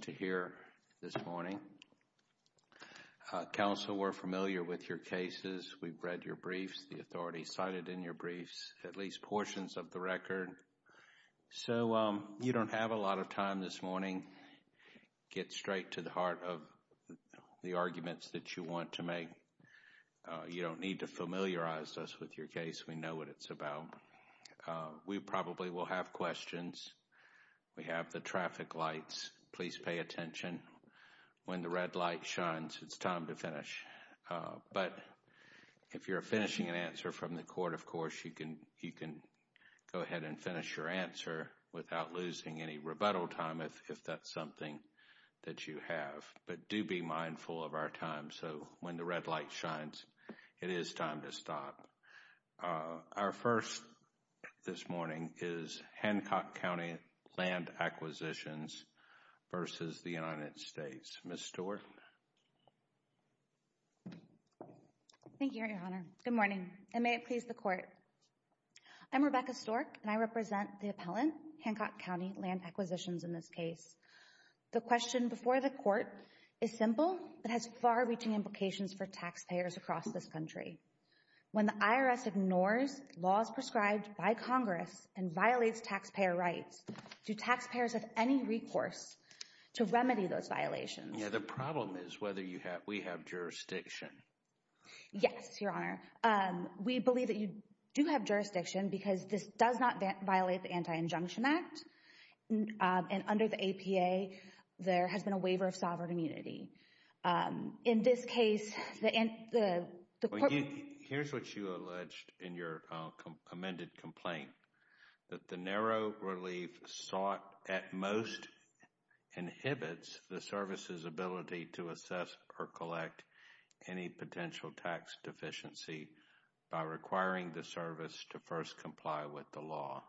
to hear this morning. Counsel we're familiar with your cases, we've read your briefs, the authorities cited in your briefs, at least portions of the record. So you don't have a lot of time this morning. Get straight to the heart of the arguments that you want to make. You don't need to familiarize us with your case, we know what it's about. We probably will have questions. We have the traffic lights, please pay attention. When the red light shines, it's time to finish. But if you're finishing an answer from the court, of course, you can go ahead and finish your answer without losing any rebuttal time if that's something that you have. But do be mindful of our time. So when the red light shines, it is time to stop. Our first this morning is Hancock County Land Acquisitions v. United States. Ms. Stewart. Thank you, Your Honor. Good morning, and may it please the Court. I'm Rebecca Stork, and I represent the appellant, Hancock County Land Acquisitions in this case. The question before the Court is simple, but has far-reaching implications for taxpayers across this country. When the IRS ignores laws prescribed by Congress and violates taxpayer rights, do taxpayers have any recourse to remedy those violations? Yeah, the problem is whether we have jurisdiction. Yes, Your Honor. We believe that you do have jurisdiction because this does not violate the Anti-Injunction Act, and under the APA, there has been a waiver of sovereign immunity. In this case, the... Here's what you alleged in your amended complaint, that the narrow relief sought at most inhibits the service's ability to assess or collect any potential tax deficiency by requiring the service to first comply with the law.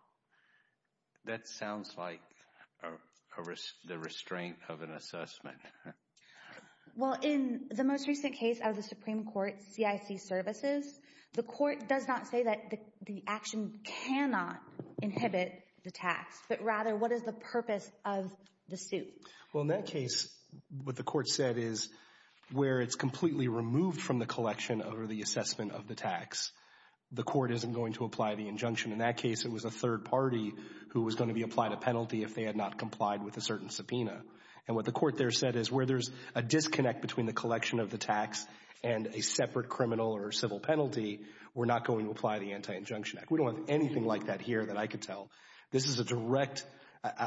That sounds like the restraint of an assessment. Well, in the most recent case out of the Supreme Court, CIC Services, the Court does not say that the action cannot inhibit the tax, but rather what is the purpose of the suit? Well, in that case, what the Court said is where it's completely removed from the collection over the assessment of the tax, the Court isn't going to apply the injunction. In that case, it was a third party who was going to be applied a penalty if they had not complied with a certain subpoena. And what the Court there said is where there's a disconnect between the collection of the tax and a separate criminal or civil penalty, we're not going to apply the Anti-Injunction Act. We don't have anything like that here that I could tell. This is a direct...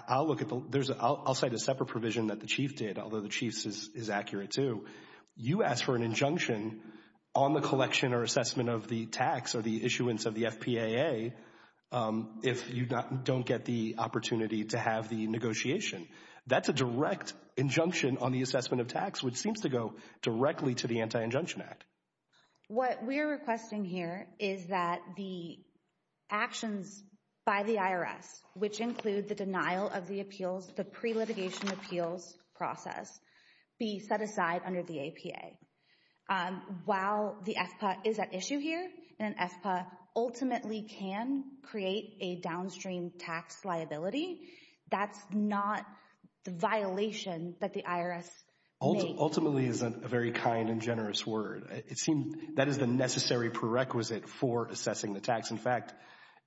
I'll look at the... I'll cite a separate provision that the Chief did, although the Chief's is accurate, too. You asked for an injunction on the collection or assessment of the tax or the issuance of the FPAA if you don't get the opportunity to have the negotiation. That's a direct injunction on the assessment of tax, which seems to go directly to the Anti-Injunction Act. What we're requesting here is that the actions by the IRS, which include the denial of the appeals, the pre-litigation appeals process, be set aside under the APA. While the FPAA is at issue here, and the FPAA ultimately can create a downstream tax liability, that's not the violation that the IRS may... Ultimately is a very kind and generous word. It seems that is the necessary prerequisite for assessing the tax. In fact,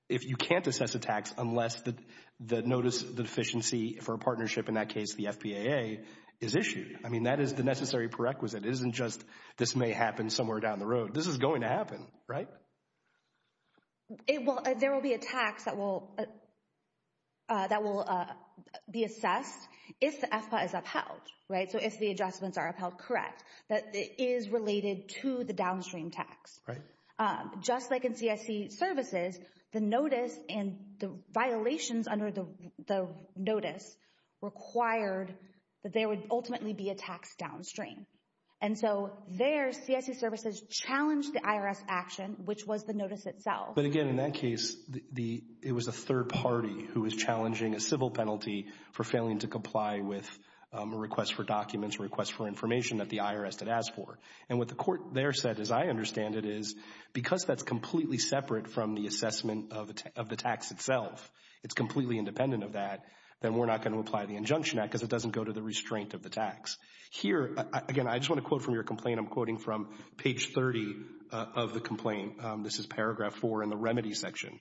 if you can't assess a tax unless the notice of deficiency for a partnership, in that case the FPAA, is issued. I mean, that is the necessary prerequisite. It isn't just, this may happen somewhere down the road. This is going to happen, right? There will be a tax that will be assessed if the FPAA is upheld, so if the adjustments are upheld correct, that is related to the downstream tax. Just like in CSE services, the notice and the violations under the notice required that there would ultimately be a tax downstream. And so there, CSE services challenged the IRS action, which was the notice itself. But again, in that case, it was a third party who was challenging a civil penalty for failing to comply with a request for documents, request for information that the IRS did ask for. And what the court there said, as I understand it, is because that's completely separate from the assessment of the tax itself, it's completely independent of that, then we're not going to apply the Injunction Act because it doesn't go to the restraint of the tax. Here, again, I just want to quote from your complaint. I'm quoting from page 30 of the complaint. This is paragraph 4 in the remedy section.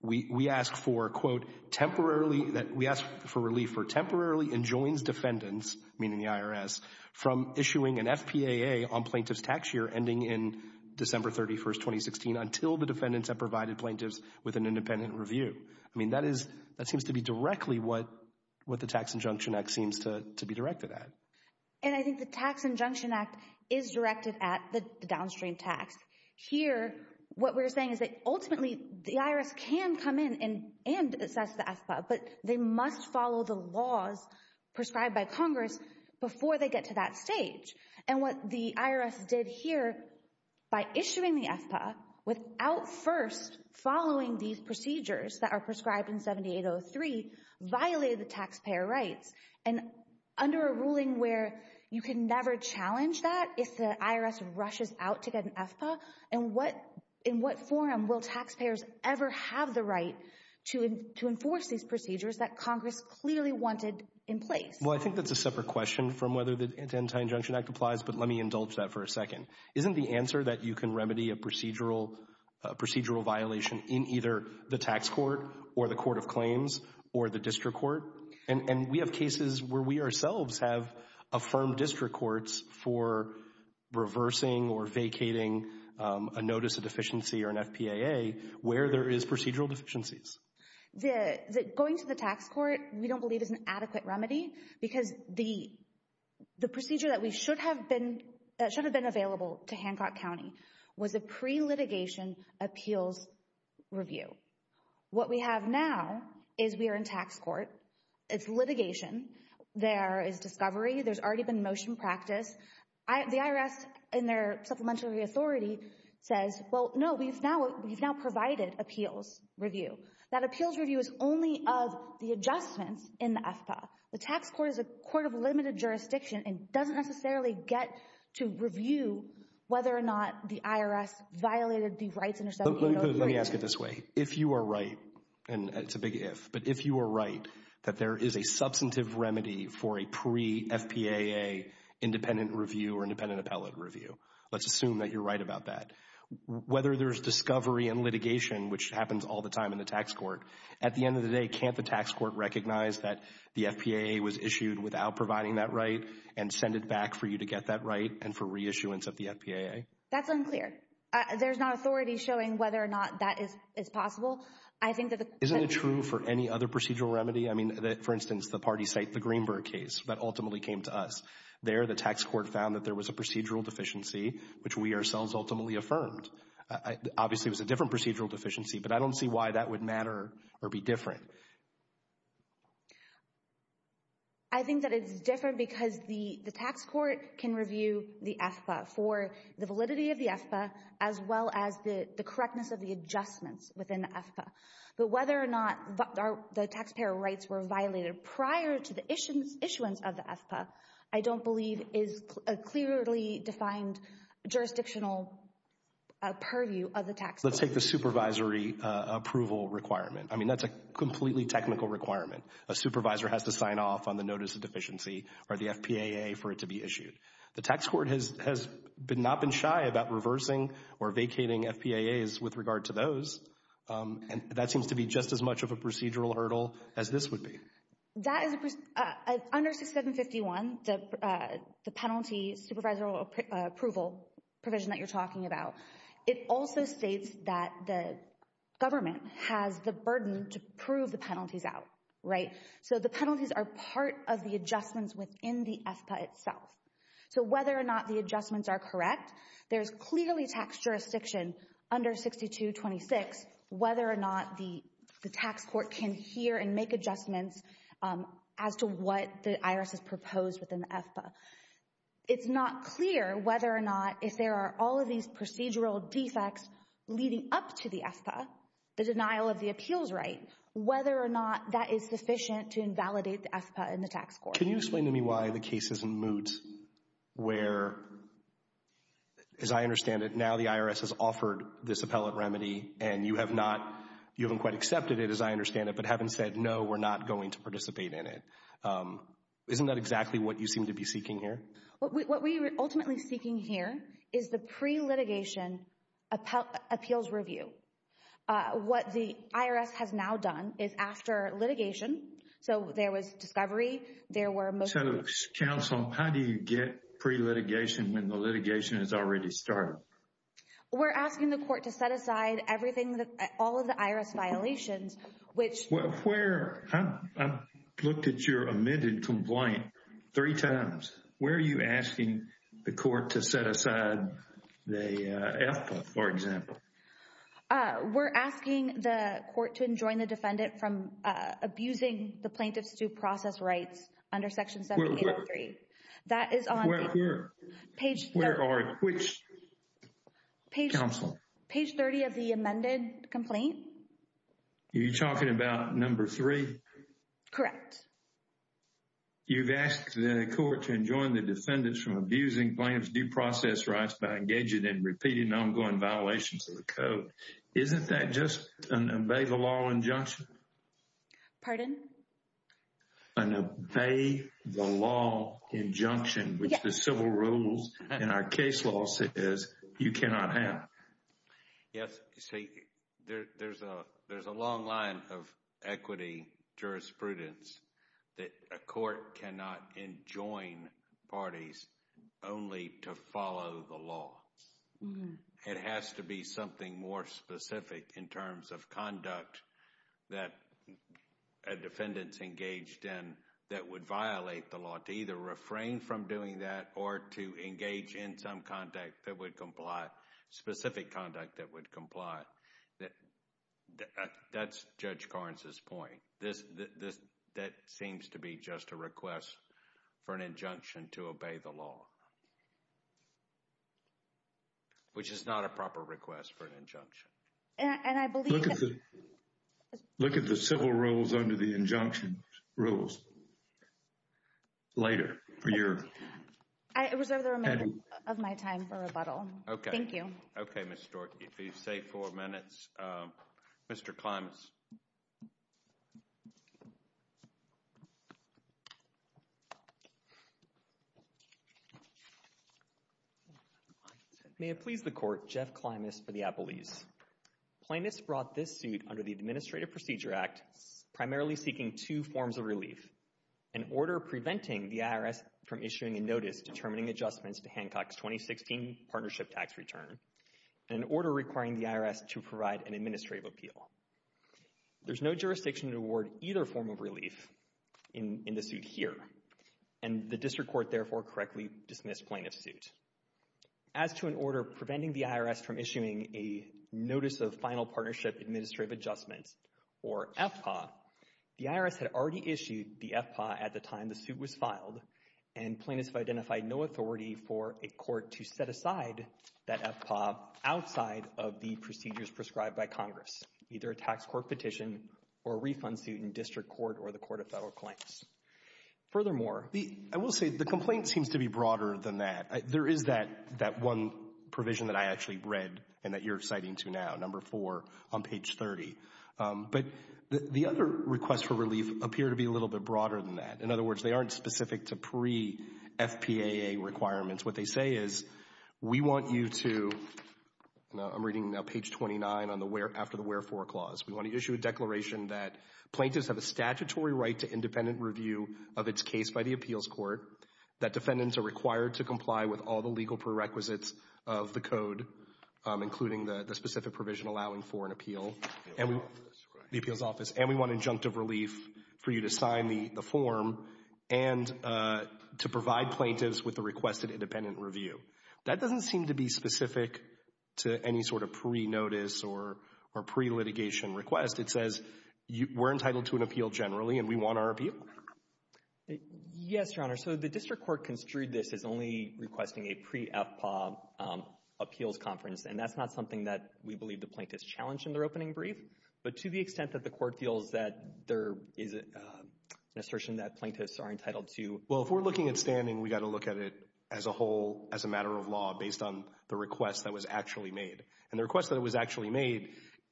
We ask for, quote, temporarily, we ask for relief for temporarily enjoins defendants, meaning the IRS, from issuing an FPAA on plaintiff's tax year ending in December 31, 2016, until the defendants have provided plaintiffs with an independent review. I mean, that is, that seems to be directly what the Tax Injunction Act seems to be directed at. And I think the Tax Injunction Act is directed at the downstream tax. Here, what we're saying is that ultimately, the IRS can come in and assess the FPAA, but they must follow the laws prescribed by Congress before they get to that stage. And what the IRS did here, by issuing the FPAA without first following these procedures that are prescribed in 7803, violated the taxpayer rights. And under a ruling where you can never challenge that, if the IRS rushes out to get an FPAA, and what, in what forum will taxpayers ever have the right to enforce these procedures that Congress clearly wanted in place? Well, I think that's a separate question from whether the Tax Injunction Act applies, but let me indulge that for a second. Isn't the answer that you can remedy a procedural violation in either the tax court, or the court of claims, or the district court? And we have cases where we ourselves have affirmed district courts for reversing or vacating a notice of deficiency or an FPAA where there is procedural deficiencies. Going to the tax court, we don't believe is an adequate remedy, because the procedure that should have been available to Hancock County was a pre-litigation appeals review. What we have now is we are in tax court, it's litigation, there is discovery, there's already been motion practice. The IRS in their supplementary authority says, well, no, we've now provided appeals review. That appeals review is only of the adjustments in the FPAA. The tax court is a court of limited jurisdiction and doesn't necessarily get to review whether or not the IRS violated the rights under 7803. Let me ask it this way. If you are right, and it's a big if, but if you are right that there is a substantive remedy for a pre-FPAA independent review or independent appellate review, let's assume that you're right about that. Whether there's discovery and litigation, which happens all the time in the tax court, at the end of the day, can't the tax court recognize that the FPAA was issued without providing that right and send it back for you to get that right and for reissuance of the FPAA? That's unclear. There's not authority showing whether or not that is possible. Isn't it true for any other procedural remedy? I mean, for instance, the party cite the Greenberg case that ultimately came to us. There, the tax court found that there was a procedural deficiency, which we ourselves ultimately affirmed. Obviously, it was a different procedural deficiency, but I don't see why that would matter or be different. I think that it's different because the tax court can review the FPAA for the validity of the FPAA as well as the correctness of the adjustments within the FPAA. But whether or not the taxpayer rights were violated prior to the issuance of the FPAA, I don't believe is a clearly defined jurisdictional purview of the tax court. Let's take the supervisory approval requirement. I mean, that's a completely technical requirement. A supervisor has to sign off on the notice of deficiency or the FPAA for it to be issued. The tax court has not been shy about reversing or vacating FPAAs with regard to those, and that seems to be just as much of a procedural hurdle as this would be. Under 6751, the penalty supervisory approval provision that you're talking about, it also states that the government has the burden to prove the penalties out, right? So the penalties are part of the adjustments within the FPAA itself. So whether or not the adjustments are correct, there's clearly tax jurisdiction under 6226 whether or not the tax court can hear and make adjustments as to what the IRS has proposed within the FPAA. It's not clear whether or not if there are all of these procedural defects leading up to the FPAA, the denial of the appeals right, whether or not that is sufficient to invalidate the FPAA in the tax court. Can you explain to me why the case is moot where, as I understand it, now the IRS has offered this appellate remedy and you haven't quite accepted it, as I understand it, but haven't said, no, we're not going to participate in it. Isn't that exactly what you seem to be seeking here? What we are ultimately seeking here is the pre-litigation appeals review. What the IRS has now done is after litigation, so there was discovery. So, counsel, how do you get pre-litigation when the litigation has already started? We're asking the court to set aside everything, all of the IRS violations, which I've looked at your omitted complaint three times. Where are you asking the court to set aside the FPAA, for example? We're asking the court to enjoin the defendant from abusing the plaintiff's due process rights under section 783. That is on page 30 of the amended complaint. Are you talking about number three? Correct. You've asked the court to enjoin the defendants from abusing plaintiff's due process rights by engaging in repeating ongoing violations of the code. Isn't that just an obey the law injunction? Pardon? An obey the law injunction, which the civil rules in our case law says you cannot have. Yes. See, there's a long line of equity jurisprudence that a court cannot enjoin parties only to follow the law. It has to be something more specific in terms of conduct that a defendant's engaged in that would violate the law. To either refrain from doing that or to engage in some specific conduct that would comply. That's Judge Karnes' point. That seems to be just a request for an injunction to obey the law. Which is not a proper request for an injunction. Look at the civil rules under the injunction rules later. I reserve the remainder of my time for rebuttal. Okay. Thank you. Okay, Ms. Stork. You have four minutes. Mr. Klimas. May it please the court, Jeff Klimas for the Appellees. Plaintiffs brought this suit under the Administrative Procedure Act, primarily seeking two forms of relief. An order preventing the IRS from issuing a notice determining adjustments to Hancock's 2016 partnership tax return. And an order requiring the IRS to provide an administrative appeal. There's no jurisdiction to award either form of relief in the suit here. And the district court, therefore, correctly dismissed plaintiff's suit. As to an order preventing the IRS from issuing a Notice of Final Partnership Administrative Adjustment, or FPAA, the IRS had already issued the FPAA at the time the suit was filed. And plaintiffs have identified no authority for a court to set aside that FPAA outside of the procedures prescribed by Congress, either a tax court petition or a refund suit in district court or the Court of Federal Claims. Furthermore, I will say the complaint seems to be broader than that. There is that one provision that I actually read and that you're citing to now, number four on page 30. But the other requests for relief appear to be a little bit broader than that. In other words, they aren't specific to pre-FPAA requirements. What they say is, we want you to, I'm reading now page 29 after the wherefore clause, we want to issue a declaration that plaintiffs have a statutory right to independent review of its case by the appeals court, that defendants are required to comply with all the legal prerequisites of the code, including the specific provision allowing for an appeal, the appeals office. And we want injunctive relief for you to sign the form and to provide plaintiffs with the requested independent review. That doesn't seem to be specific to any sort of pre-notice or pre-litigation request. It says we're entitled to an appeal generally and we want our appeal. Yes, Your Honor. So the district court construed this as only requesting a pre-FPAA appeals conference. And that's not something that we believe the plaintiffs challenged in their opening brief. But to the extent that the court feels that there is an assertion that plaintiffs are entitled to. Well, if we're looking at standing, we've got to look at it as a whole, as a matter of law, based on the request that was actually made. And the request that was actually made,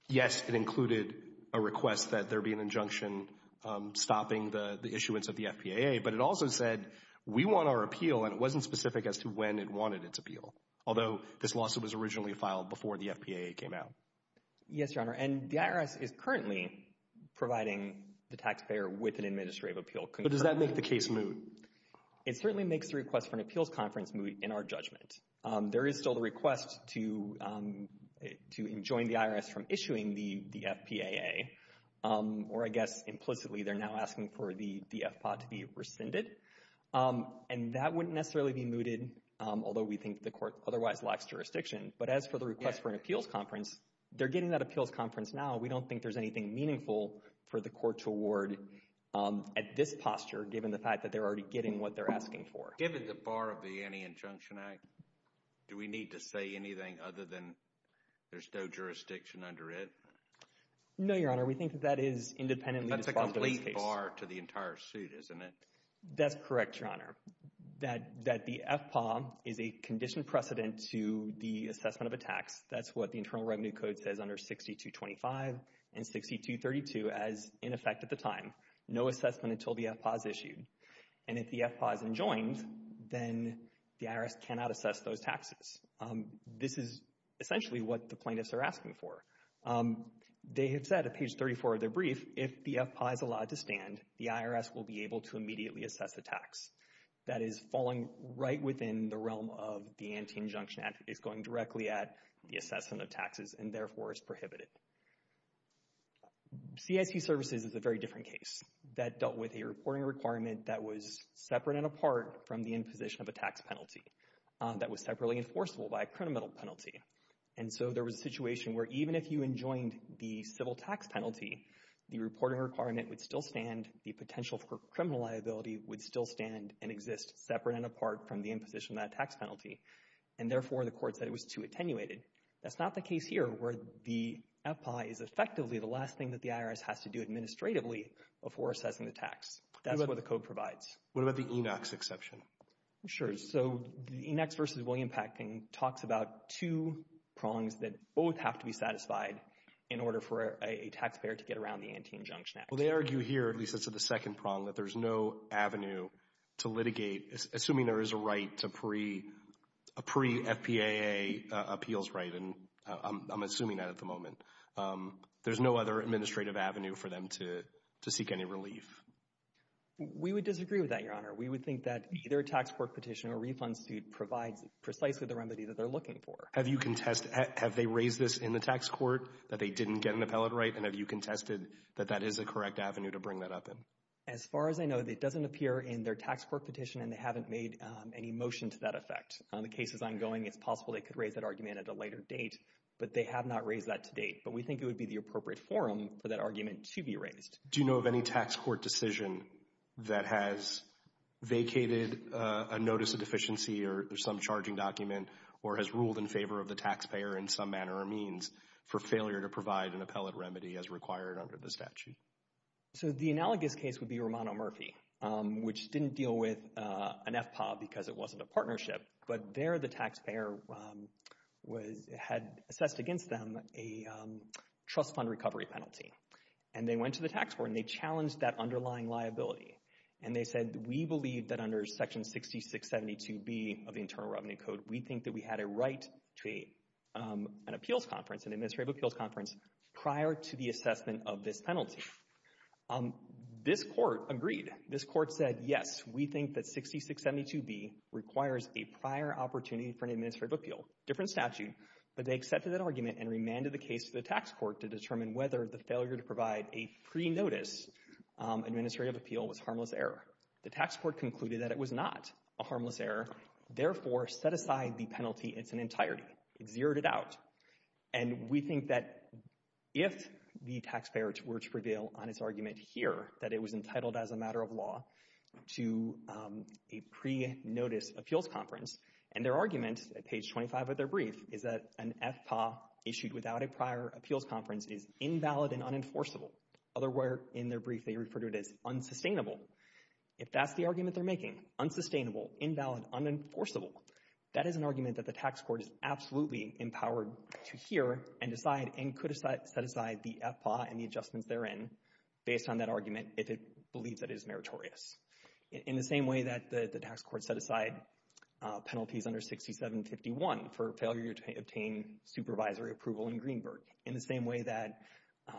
yes, it included a request that there be an injunction stopping the issuance of the FPAA. But it also said we want our appeal and it wasn't specific as to when it wanted its appeal. Although this lawsuit was originally filed before the FPAA came out. Yes, Your Honor. And the IRS is currently providing the taxpayer with an administrative appeal. But does that make the case moot? It certainly makes the request for an appeals conference moot in our judgment. There is still the request to enjoin the IRS from issuing the FPAA. Or I guess implicitly they're now asking for the DFPA to be rescinded. And that wouldn't necessarily be mooted, although we think the court otherwise lacks jurisdiction. But as for the request for an appeals conference, they're getting that appeals conference now. We don't think there's anything meaningful for the court to award at this posture, given the fact that they're already getting what they're asking for. Given the bar of the Anti-Injunction Act, do we need to say anything other than there's no jurisdiction under it? No, Your Honor. We think that that is independently responsible in this case. That's a complete bar to the entire suit, isn't it? That's correct, Your Honor. That the FPAA is a conditioned precedent to the assessment of a tax. That's what the Internal Revenue Code says under 6225 and 6232 as in effect at the time. No assessment until the FPAA is issued. And if the FPAA is enjoined, then the IRS cannot assess those taxes. This is essentially what the plaintiffs are asking for. They have said at page 34 of their brief, if the FPAA is allowed to stand, the IRS will be able to immediately assess the tax. That is falling right within the realm of the Anti-Injunction Act. It's going directly at the assessment of taxes and therefore is prohibited. CIC services is a very different case. That dealt with a reporting requirement that was separate and apart from the imposition of a tax penalty. That was separately enforceable by a criminal penalty. And so there was a situation where even if you enjoined the civil tax penalty, the reporting requirement would still stand. The potential for criminal liability would still stand and exist separate and apart from the imposition of that tax penalty. And therefore the court said it was too attenuated. That's not the case here where the FPAA is effectively the last thing that the IRS has to do administratively before assessing the tax. That's what the code provides. What about the ENOX exception? Sure. So the ENOX v. William Packing talks about two prongs that both have to be satisfied in order for a taxpayer to get around the Anti-Injunction Act. Well, they argue here, at least as to the second prong, that there's no avenue to litigate, assuming there is a right to a pre-FPAA appeals right, and I'm assuming that at the moment. There's no other administrative avenue for them to seek any relief. We would disagree with that, Your Honor. We would think that either a tax court petition or a refund suit provides precisely the remedy that they're looking for. Have you contested, have they raised this in the tax court, that they didn't get an appellate right, and have you contested that that is the correct avenue to bring that up in? As far as I know, it doesn't appear in their tax court petition and they haven't made any motion to that effect. The case is ongoing. It's possible they could raise that argument at a later date, but they have not raised that to date. But we think it would be the appropriate forum for that argument to be raised. Do you know of any tax court decision that has vacated a notice of deficiency or some charging document or has ruled in favor of the taxpayer in some manner or means for failure to provide an appellate remedy as required under the statute? So the analogous case would be Romano Murphy, which didn't deal with an FPAA because it wasn't a partnership, but there the taxpayer had assessed against them a trust fund recovery penalty, and they went to the tax court and they challenged that underlying liability. And they said, we believe that under Section 6672B of the Internal Revenue Code, we think that we had a right to an appeals conference, an administrative appeals conference, prior to the assessment of this penalty. This court agreed. This court said, yes, we think that 6672B requires a prior opportunity for an administrative appeal, different statute. But they accepted that argument and remanded the case to the tax court to determine whether the failure to provide a pre-notice administrative appeal was harmless error. The tax court concluded that it was not a harmless error, therefore set aside the penalty in its entirety. It zeroed it out. And we think that if the taxpayer were to reveal on its argument here that it was entitled as a matter of law to a pre-notice appeals conference, and their argument at page 25 of their brief is that an FPA issued without a prior appeals conference is invalid and unenforceable, otherwise in their brief they refer to it as unsustainable. If that's the argument they're making, unsustainable, invalid, unenforceable, that is an argument that the tax court is absolutely empowered to hear and decide and could set aside the FPA and the adjustments therein based on that argument if it believes that it is meritorious. In the same way that the tax court set aside penalties under 6751 for failure to obtain supervisory approval in Greenberg, in the same way that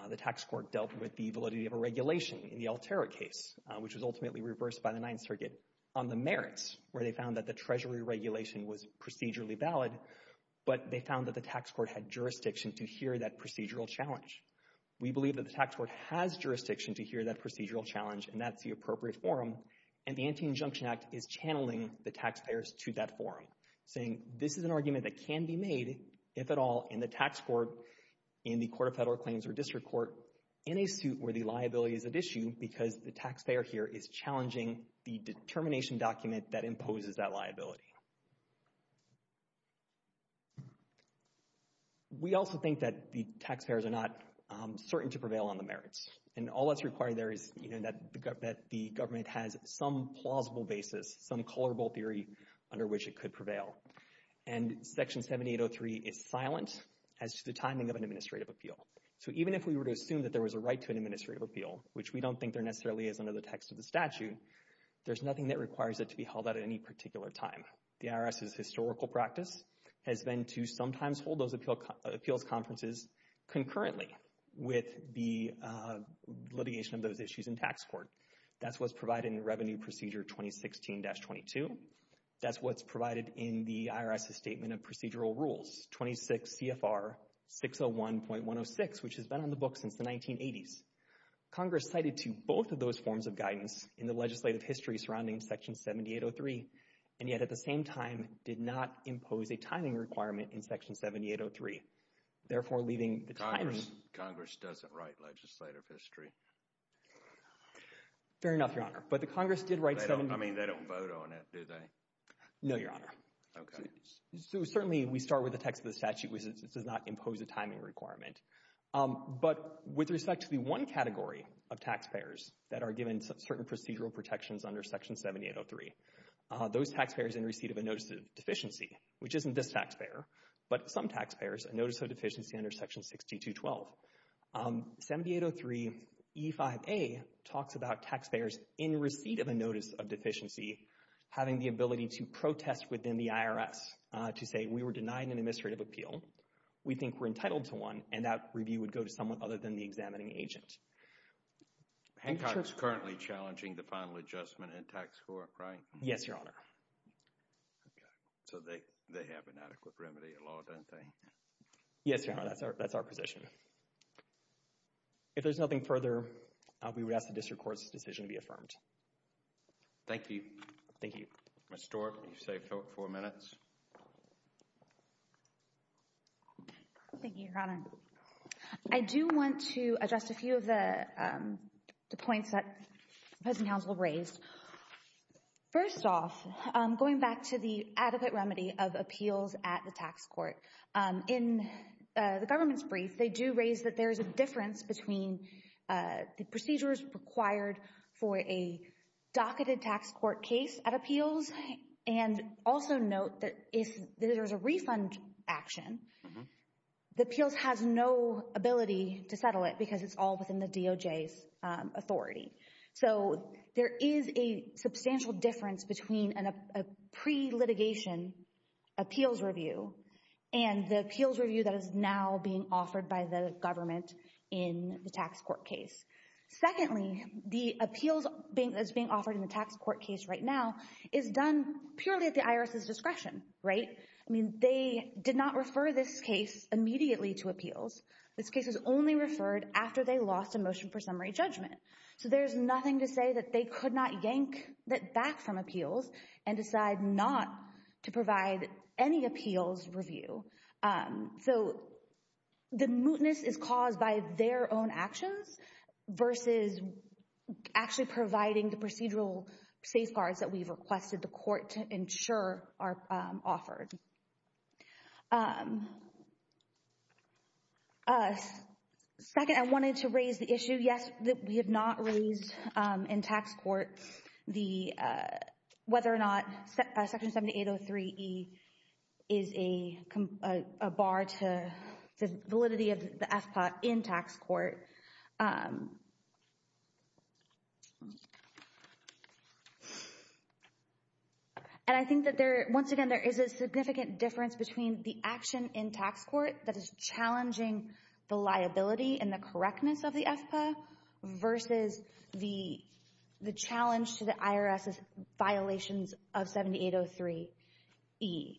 the tax court dealt with the validity of a regulation in the Altera case, which was ultimately reversed by the Ninth Circuit on the merits, where they found that the Treasury regulation was procedurally valid, but they found that the tax court had jurisdiction to hear that procedural challenge. We believe that the tax court has jurisdiction to hear that procedural challenge, and that's the appropriate forum, and the Anti-Injunction Act is channeling the taxpayers to that forum, saying this is an argument that can be made, if at all, in the tax court, in the Court of Federal Claims or District Court, in a suit where the liability is at issue because the taxpayer here is challenging the determination document that imposes that liability. We also think that the taxpayers are not certain to prevail on the merits, and all that's required there is that the government has some plausible basis, some colorable theory under which it could prevail, and Section 7803 is silent as to the timing of an administrative appeal. So even if we were to assume that there was a right to an administrative appeal, which we don't think there necessarily is under the text of the statute, there's nothing that requires it to be held at any particular time. The IRS's historical practice has been to sometimes hold those appeals conferences concurrently with the litigation of those issues in tax court. That's what's provided in Revenue Procedure 2016-22. That's what's provided in the IRS's Statement of Procedural Rules 26 CFR 601.106, which has been on the books since the 1980s. Congress cited to both of those forms of guidance in the legislative history surrounding Section 7803, and yet at the same time did not impose a timing requirement in Section 7803, therefore leaving the timing— Congress doesn't write legislative history. Fair enough, Your Honor. But the Congress did write— I mean, they don't vote on it, do they? No, Your Honor. Okay. Certainly, we start with the text of the statute, which does not impose a timing requirement. But with respect to the one category of taxpayers that are given certain procedural protections under Section 7803, those taxpayers in receipt of a Notice of Deficiency, which isn't this taxpayer, but some taxpayers, a Notice of Deficiency under Section 6212. 7803 E5A talks about taxpayers in receipt of a Notice of Deficiency having the ability to protest within the IRS to say, we were denied an administrative appeal, we think we're entitled to one, and that review would go to someone other than the examining agent. Hancock's currently challenging the final adjustment in tax court, right? Yes, Your Honor. Okay. So they have an adequate remedy in law, don't they? Yes, Your Honor. That's our position. If there's nothing further, we would ask the district court's decision to be affirmed. Thank you. Thank you. Ms. Stork, you've saved four minutes. Thank you, Your Honor. I do want to address a few of the points that the present counsel raised. First off, going back to the adequate remedy of appeals at the tax court, in the government's brief they do raise that there is a difference between the procedures required for a docketed tax court case at appeals and also note that if there is a refund action, the appeals has no ability to settle it because it's all within the DOJ's authority. So there is a substantial difference between a pre-litigation appeals review and the appeals review that is now being offered by the government in the tax court case. Secondly, the appeals that's being offered in the tax court case right now is done purely at the IRS's discretion, right? I mean, they did not refer this case immediately to appeals. This case was only referred after they lost a motion for summary judgment. So there's nothing to say that they could not yank that back from appeals and decide not to provide any appeals review. So the mootness is caused by their own actions versus actually providing the procedural safeguards that we've requested the court to ensure are offered. Second, I wanted to raise the issue, yes, that we have not raised in tax court whether or not Section 7803E is a bar to the validity of the FPA in tax court. And I think that there, once again, there is a significant difference between the action in tax court that is challenging the liability and the correctness of the FPA versus the challenge to the IRS's violations of 7803E. The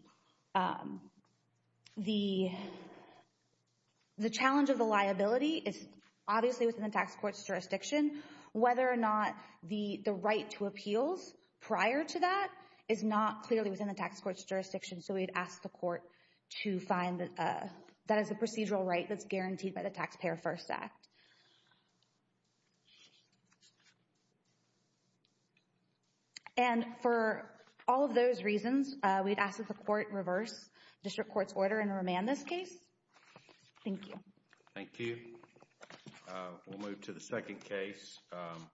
challenge of the liability is obviously within the tax court's jurisdiction. Whether or not the right to appeals prior to that is not clearly within the tax court's jurisdiction. So we'd ask the court to find that that is a procedural right that's guaranteed by the Taxpayer First Act. And for all of those reasons, we'd ask that the court reverse district court's order and remand this case. Thank you. Thank you. We'll move to the second case.